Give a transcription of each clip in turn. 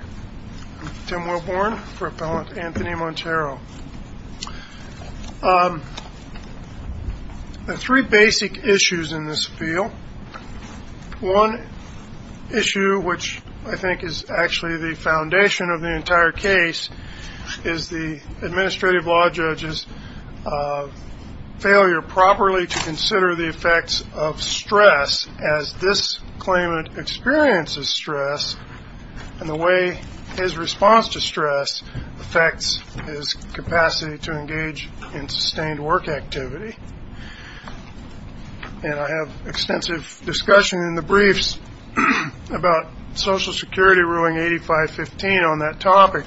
I'm Tim Wilborn for Appellant Anthony Montero. There are three basic issues in this field. One issue, which I think is actually the foundation of the entire case, is the administrative law judge's failure properly to consider the effects of stress as this claimant experiences stress, and the way his response to stress affects his capacity to engage in sustained work activity. And I have extensive discussion in the briefs about Social Security ruling 8515 on that topic.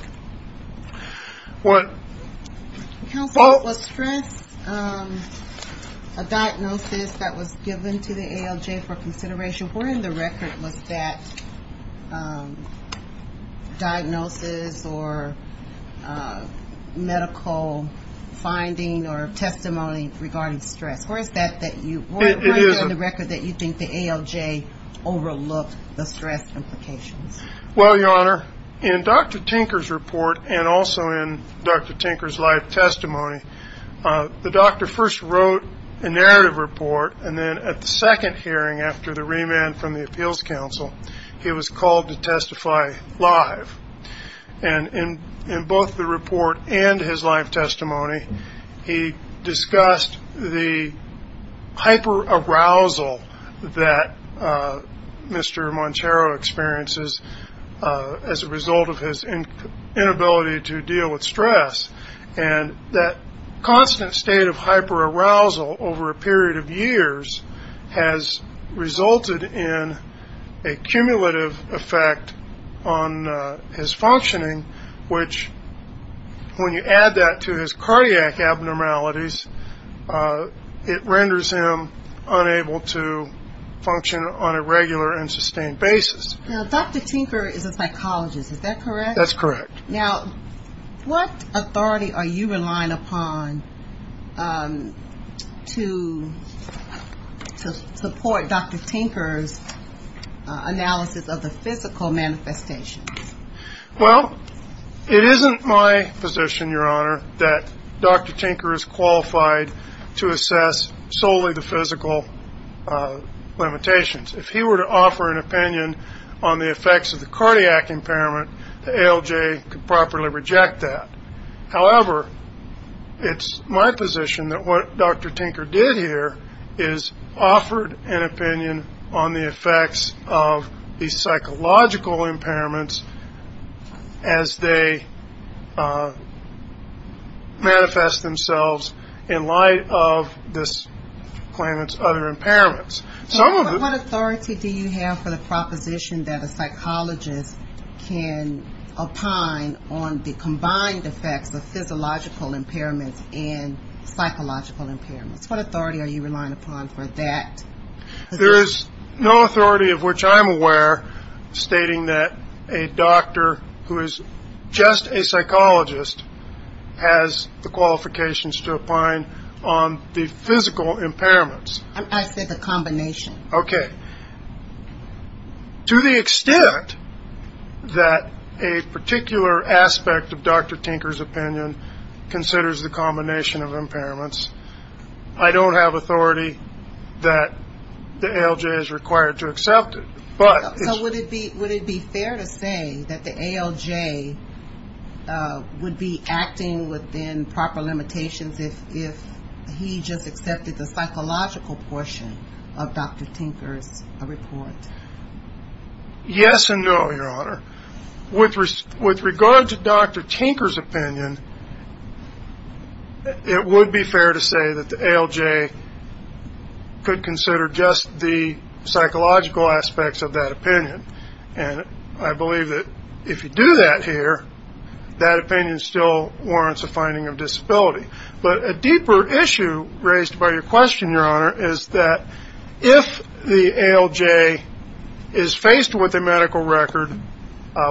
Counsel, was stress a diagnosis that was given to the ALJ for consideration? Where in the record was that diagnosis or medical finding or testimony regarding stress? Where is that that you ñ where is it in the record that you think the ALJ overlooked the stress implications? Well, Your Honor, in Dr. Tinker's report and also in Dr. Tinker's live testimony, the doctor first wrote a narrative report, and then at the second hearing after the remand from the Appeals Council, he was called to testify live. And in both the report and his live testimony, he discussed the hyperarousal that Mr. Montero experiences as a result of his inability to deal with stress. And that constant state of hyperarousal over a period of years has resulted in a cumulative effect on his functioning, which when you add that to his cardiac abnormalities, it renders him unable to function on a regular and sustained basis. Now, Dr. Tinker is a psychologist, is that correct? That's correct. Now, what authority are you relying upon to support Dr. Tinker's analysis of the physical manifestations? Well, it isn't my position, Your Honor, that Dr. Tinker is qualified to assess solely the physical limitations. If he were to offer an opinion on the effects of the cardiac impairment, the ALJ could properly reject that. However, it's my position that what Dr. Tinker did here is offered an opinion on the effects of these psychological impairments as they manifest themselves in light of this claimant's other impairments. What authority do you have for the proposition that a psychologist can opine on the combined effects of physiological impairments and psychological impairments? What authority are you relying upon for that? There is no authority of which I'm aware stating that a doctor who is just a psychologist has the qualifications to opine on the physical impairments. I said the combination. Okay. To the extent that a particular aspect of Dr. Tinker's opinion considers the combination of impairments, I don't have authority that the ALJ is required to accept it. So would it be fair to say that the ALJ would be acting within proper limitations if he just accepted the psychological portion of Dr. Tinker's report? Yes and no, Your Honor. With regard to Dr. Tinker's opinion, it would be fair to say that the ALJ could consider just the psychological aspects of that opinion. And I believe that if you do that here, that opinion still warrants a finding of disability. But a deeper issue raised by your question, Your Honor, is that if the ALJ is faced with a medical record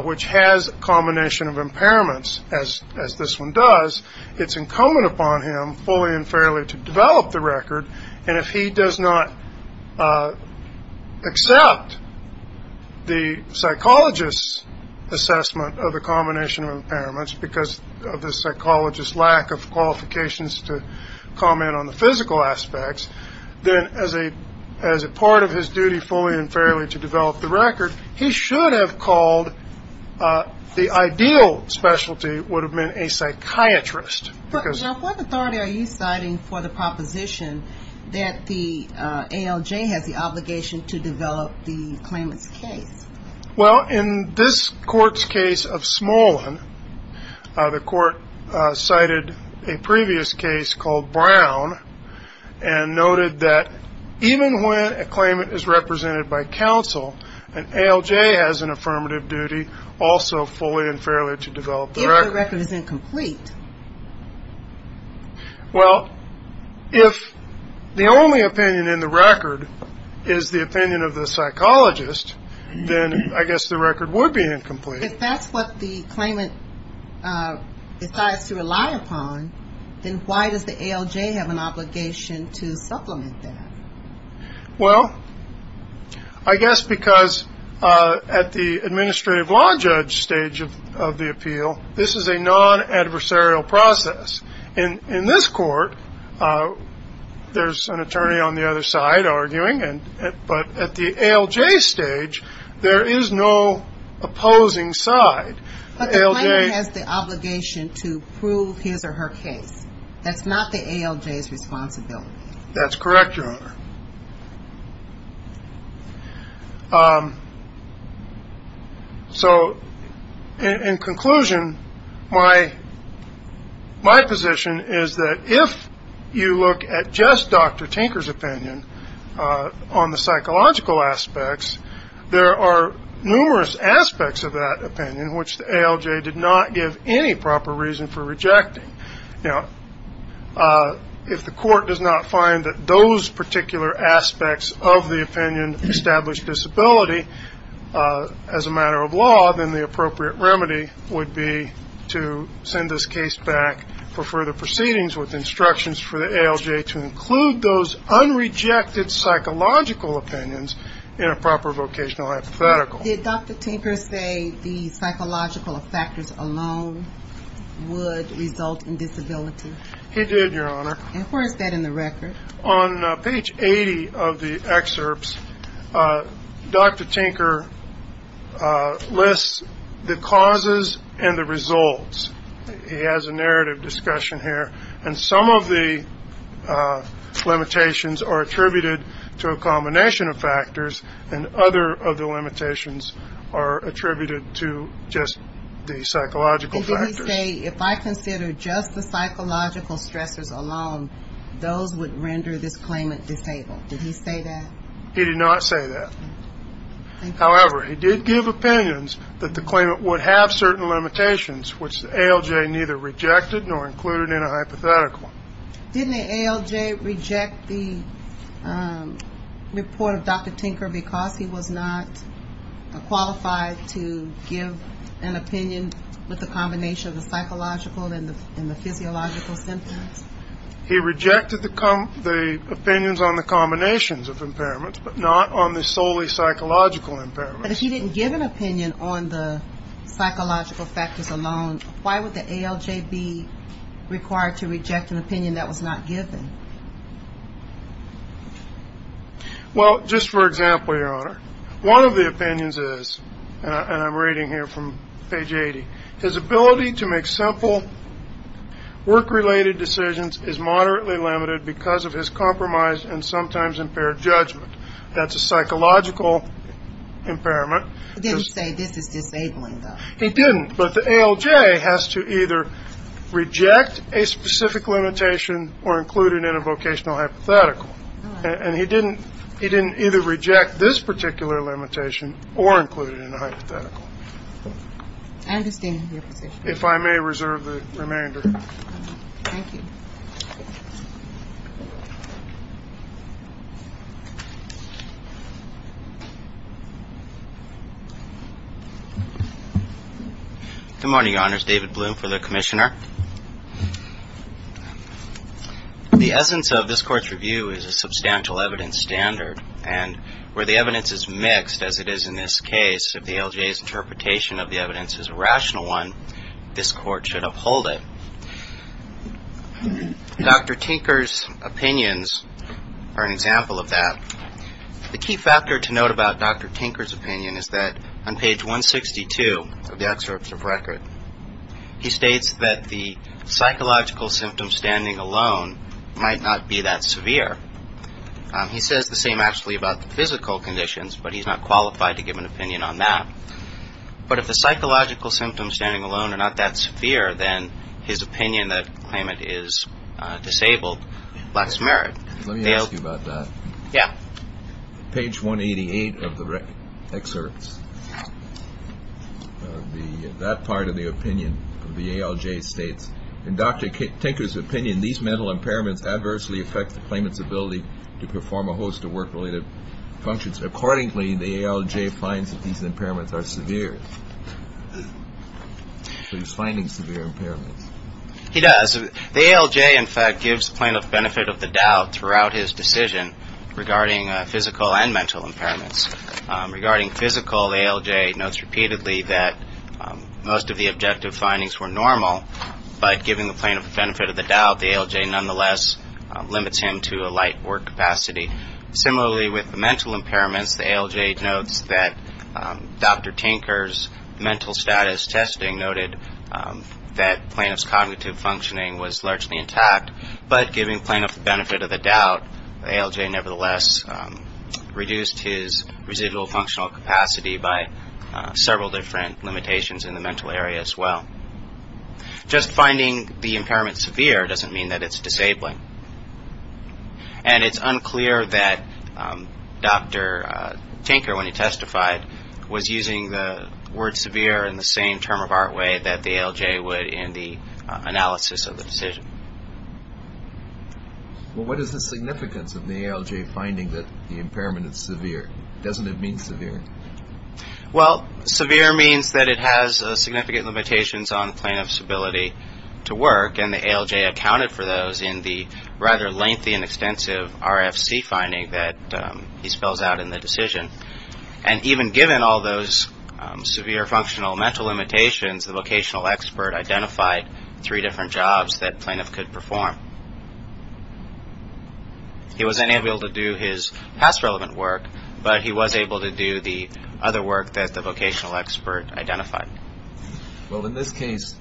which has a combination of impairments, as this one does, it's incumbent upon him fully and fairly to develop the record. And if he does not accept the psychologist's assessment of the combination of impairments because of the psychologist's lack of qualifications to comment on the physical aspects, then as a part of his duty fully and fairly to develop the record, he should have called the ideal specialty would have been a psychiatrist. What authority are you citing for the proposition that the ALJ has the obligation to develop the claimant's case? Well, in this court's case of Smolin, the court cited a previous case called Brown and noted that even when a claimant is represented by counsel, an ALJ has an affirmative duty also fully and fairly to develop the record. If the record is incomplete? Well, if the only opinion in the record is the opinion of the psychologist, then I guess the record would be incomplete. If that's what the claimant decides to rely upon, then why does the ALJ have an obligation to supplement that? Well, I guess because at the administrative law judge stage of the appeal, this is a non-adversarial process. In this court, there's an attorney on the other side arguing, but at the ALJ stage, there is no opposing side. But the claimant has the obligation to prove his or her case. That's not the ALJ's responsibility. That's correct, Your Honor. So in conclusion, my position is that if you look at just Dr. Tinker's opinion on the psychological aspects, there are numerous aspects of that opinion which the ALJ did not give any proper reason for rejecting. Now, if the court does not find that those particular aspects of the opinion establish disability as a matter of law, then the appropriate remedy would be to send this case back for further proceedings with instructions for the ALJ to include those unrejected psychological opinions in a proper vocational hypothetical. Did Dr. Tinker say the psychological factors alone would result in disability? He did, Your Honor. And where is that in the record? On page 80 of the excerpts, Dr. Tinker lists the causes and the results. He has a narrative discussion here. And some of the limitations are attributed to a combination of factors, and other of the limitations are attributed to just the psychological factors. And did he say if I consider just the psychological stressors alone, those would render this claimant disabled? Did he say that? He did not say that. However, he did give opinions that the claimant would have certain limitations, which the ALJ neither rejected nor included in a hypothetical. Didn't the ALJ reject the report of Dr. Tinker because he was not qualified to give an opinion with a combination of the psychological and the physiological symptoms? He rejected the opinions on the combinations of impairments, but not on the solely psychological impairments. But if he didn't give an opinion on the psychological factors alone, why would the ALJ be required to reject an opinion that was not given? Well, just for example, Your Honor, one of the opinions is, and I'm reading here from page 80, his ability to make simple work-related decisions is moderately limited because of his compromised and sometimes impaired judgment. That's a psychological impairment. Did he say this is disabling, though? He didn't. But the ALJ has to either reject a specific limitation or include it in a vocational hypothetical. And he didn't either reject this particular limitation or include it in a hypothetical. I understand your position. If I may reserve the remainder. Thank you. Good morning, Your Honors. David Bloom for the Commissioner. The essence of this Court's review is a substantial evidence standard, and where the evidence is mixed, as it is in this case, if the ALJ's interpretation of the evidence is a rational one, this Court should uphold it. Dr. Tinker's opinions are an example of that. The key factor to note about Dr. Tinker's opinion is that on page 162 of the excerpt of record, he states that the psychological symptoms standing alone might not be that severe. He says the same actually about the physical conditions, but he's not qualified to give an opinion on that. But if the psychological symptoms standing alone are not that severe, then his opinion that the claimant is disabled lacks merit. Let me ask you about that. Yeah. Page 188 of the excerpt, that part of the opinion of the ALJ states, in Dr. Tinker's opinion, these mental impairments adversely affect the claimant's ability to perform a host of work-related functions. Accordingly, the ALJ finds that these impairments are severe. So he's finding severe impairments. He does. The ALJ, in fact, gives plaintiff benefit of the doubt throughout his decision regarding physical and mental impairments. Regarding physical, the ALJ notes repeatedly that most of the objective findings were normal, but giving the plaintiff the benefit of the doubt, the ALJ nonetheless limits him to a light work capacity. Similarly, with the mental impairments, the ALJ notes that Dr. Tinker's mental status testing noted that plaintiff's cognitive functioning was largely intact, but giving plaintiff the benefit of the doubt, the ALJ nevertheless reduced his residual functional capacity by several different limitations in the mental area as well. Just finding the impairment severe doesn't mean that it's disabling. And it's unclear that Dr. Tinker, when he testified, was using the word severe in the same term of art way that the ALJ would in the analysis of the decision. Well, what is the significance of the ALJ finding that the impairment is severe? Doesn't it mean severe? Well, severe means that it has significant limitations on plaintiff's ability to work, and the ALJ accounted for those in the rather lengthy and extensive RFC finding that he spells out in the decision. And even given all those severe functional mental limitations, the vocational expert identified three different jobs that plaintiff could perform. He wasn't able to do his past relevant work, but he was able to do the other work that the vocational expert identified. Well, in this case,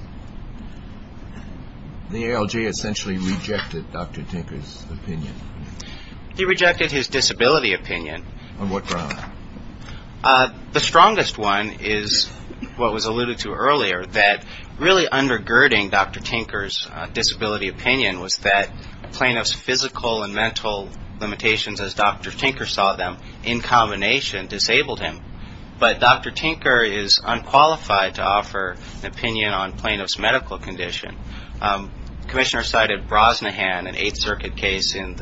the ALJ essentially rejected Dr. Tinker's opinion. He rejected his disability opinion. On what grounds? The strongest one is what was alluded to earlier, that really undergirding Dr. Tinker's disability opinion was that plaintiff's physical and mental limitations, as Dr. Tinker saw them, in combination disabled him. But Dr. Tinker is unqualified to offer an opinion on plaintiff's medical condition. Commissioner cited Brosnahan, an Eighth Circuit case in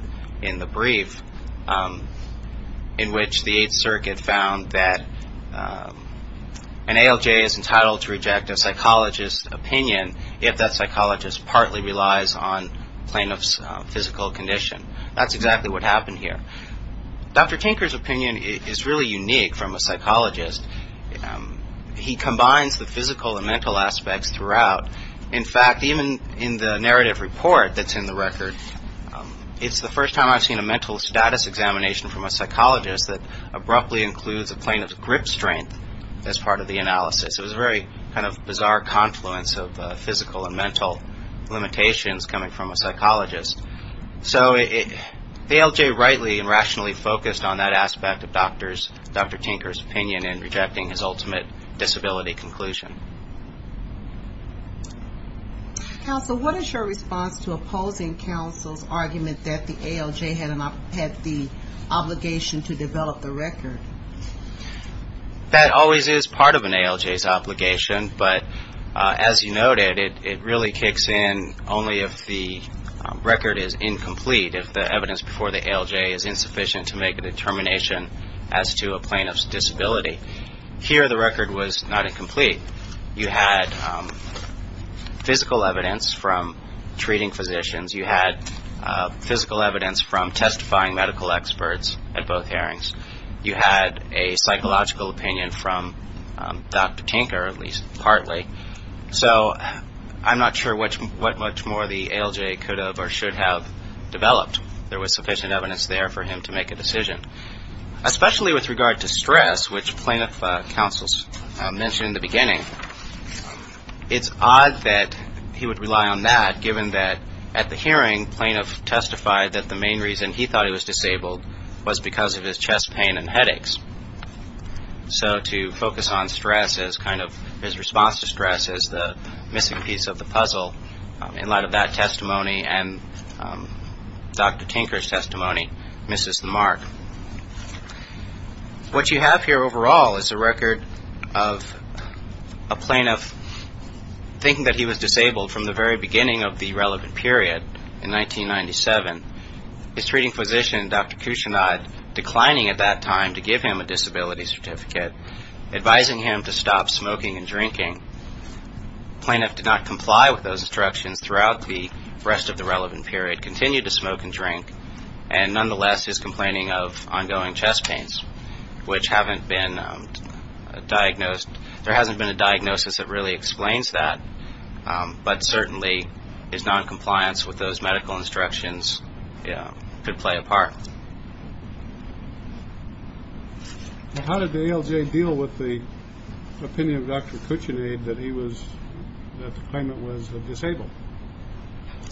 the brief, in which the Eighth Circuit found that an ALJ is entitled to reject a psychologist's opinion if that psychologist partly relies on plaintiff's physical condition. That's exactly what happened here. Dr. Tinker's opinion is really unique from a psychologist. He combines the physical and mental aspects throughout. In fact, even in the narrative report that's in the record, it's the first time I've seen a mental status examination from a psychologist that abruptly includes a plaintiff's grip strength as part of the analysis. It was a very kind of bizarre confluence of physical and mental limitations coming from a psychologist. So the ALJ rightly and rationally focused on that aspect of Dr. Tinker's opinion in rejecting his ultimate disability conclusion. Counsel, what is your response to opposing counsel's argument that the ALJ had the obligation to develop the record? That always is part of an ALJ's obligation. But as you noted, it really kicks in only if the record is incomplete, if the evidence before the ALJ is insufficient to make a determination as to a plaintiff's disability. Here, the record was not incomplete. You had physical evidence from treating physicians. You had physical evidence from testifying medical experts at both hearings. You had a psychological opinion from Dr. Tinker, at least partly. So I'm not sure what much more the ALJ could have or should have developed. There was sufficient evidence there for him to make a decision. Especially with regard to stress, which plaintiff counsels mentioned in the beginning, it's odd that he would rely on that given that at the hearing, plaintiff testified that the main reason he thought he was disabled was because of his chest pain and headaches. So to focus on stress as kind of his response to stress as the missing piece of the puzzle in light of that testimony and Dr. Tinker's testimony misses the mark. What you have here overall is a record of a plaintiff thinking that he was disabled from the very beginning of the relevant period in 1997. His treating physician, Dr. Cuchinod, declining at that time to give him a disability certificate, advising him to stop smoking and drinking. Plaintiff did not comply with those instructions throughout the rest of the relevant period, continued to smoke and drink, and nonetheless is complaining of ongoing chest pains, which haven't been diagnosed. There hasn't been a diagnosis that really explains that, but certainly his noncompliance with those medical instructions could play a part. How did the ALJ deal with the opinion of Dr. Cuchinod that he was, that the claimant was disabled?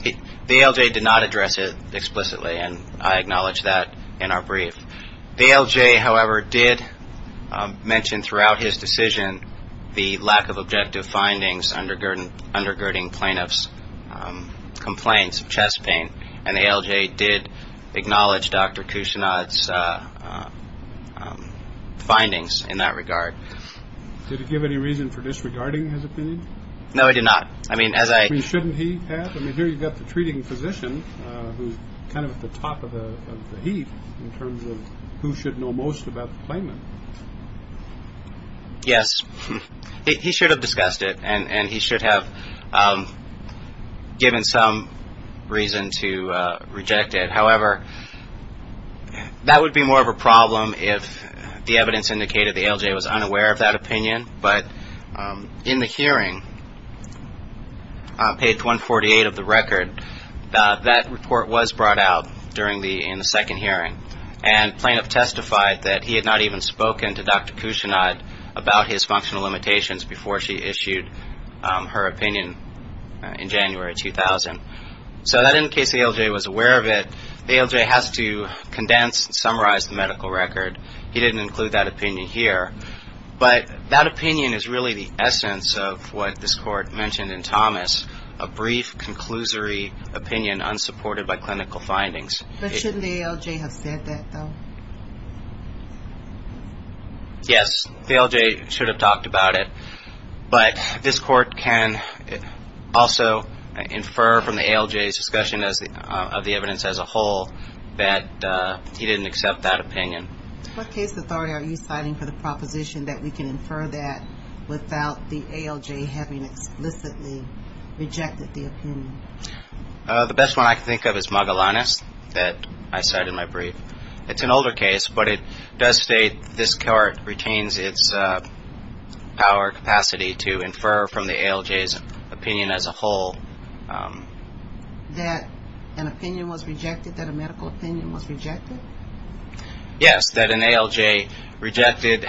The ALJ did not address it explicitly, and I acknowledge that in our brief. The ALJ, however, did mention throughout his decision the lack of objective findings undergirding plaintiff's complaints of chest pain, and the ALJ did acknowledge Dr. Cuchinod's findings in that regard. Did it give any reason for disregarding his opinion? No, it did not. I mean, shouldn't he have? I mean, here you've got the treating physician who's kind of at the top of the heap in terms of who should know most about the claimant. Yes, he should have discussed it, and he should have given some reason to reject it. However, that would be more of a problem if the evidence indicated the ALJ was unaware of that opinion, but in the hearing, page 148 of the record, that report was brought out in the second hearing, and plaintiff testified that he had not even spoken to Dr. Cuchinod about his functional limitations before she issued her opinion in January 2000. So that in case the ALJ was aware of it, the ALJ has to condense and summarize the medical record. He didn't include that opinion here. But that opinion is really the essence of what this Court mentioned in Thomas, a brief, conclusory opinion unsupported by clinical findings. But shouldn't the ALJ have said that, though? Yes, the ALJ should have talked about it, but this Court can also infer from the ALJ's discussion of the evidence as a whole that he didn't accept that opinion. What case authority are you citing for the proposition that we can infer that without the ALJ having explicitly rejected the opinion? The best one I can think of is Magellanes that I cited in my brief. It's an older case, but it does state this Court retains its power, capacity, to infer from the ALJ's opinion as a whole. That an opinion was rejected, that a medical opinion was rejected? Yes, that an ALJ rejected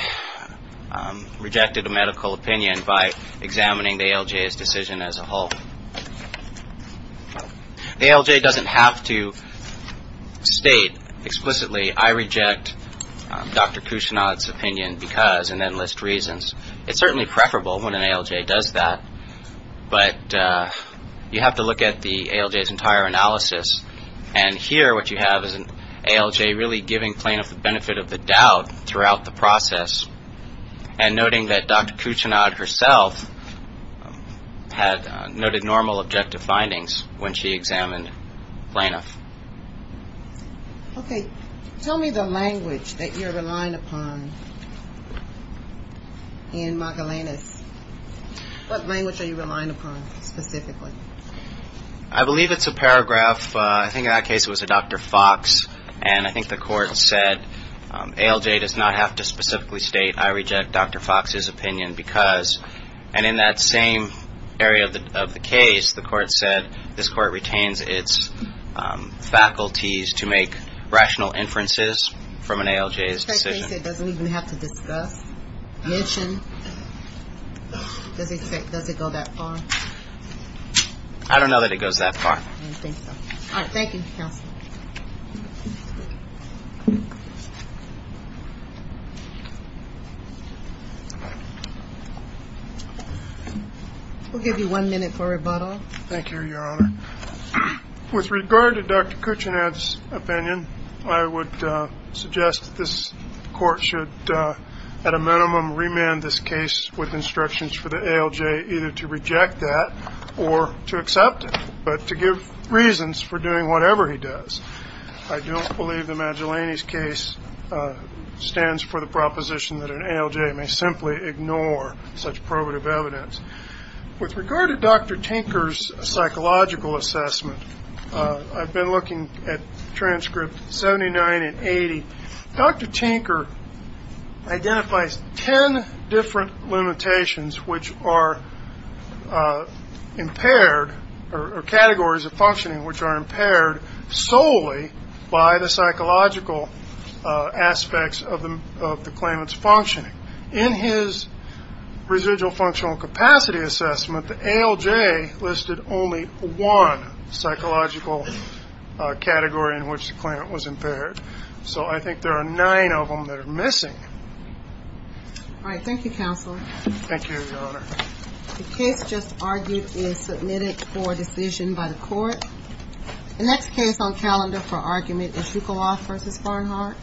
a medical opinion by examining the ALJ's decision as a whole. The ALJ doesn't have to state explicitly, I reject Dr. Kushnod's opinion because, and then list reasons. It's certainly preferable when an ALJ does that, but you have to look at the ALJ's entire analysis, and here what you have is an ALJ really giving Planoff the benefit of the doubt throughout the process and noting that Dr. Kushnod herself had noted normal objective findings when she examined Planoff. Okay, tell me the language that you're relying upon in Magellanes. What language are you relying upon specifically? I believe it's a paragraph, I think in that case it was a Dr. Fox, and I think the Court said ALJ does not have to specifically state, I reject Dr. Fox's opinion because, and in that same area of the case, the Court said this Court retains its faculties to make rational inferences from an ALJ's decision. In that case it doesn't even have to discuss, mention? Does it go that far? I don't know that it goes that far. I don't think so. All right, thank you, counsel. We'll give you one minute for rebuttal. Thank you, Your Honor. With regard to Dr. Kushnod's opinion, I would suggest this Court should at a minimum remand this case with instructions for the ALJ either to reject that or to accept it, but to give reasons for doing whatever he does. I don't believe the Magellanes case stands for the proposition that an ALJ may simply ignore such probative evidence. With regard to Dr. Tinker's psychological assessment, I've been looking at transcripts 79 and 80. Dr. Tinker identifies ten different limitations which are impaired, or categories of functioning which are impaired solely by the psychological aspects of the claimant's functioning. In his residual functional capacity assessment, the ALJ listed only one psychological category in which the claimant was impaired. So I think there are nine of them that are missing. All right, thank you, counsel. Thank you, Your Honor. The case just argued is submitted for decision by the Court. The next case on calendar for argument is Dukoloff v. Barnhart. Thank you. Thank you.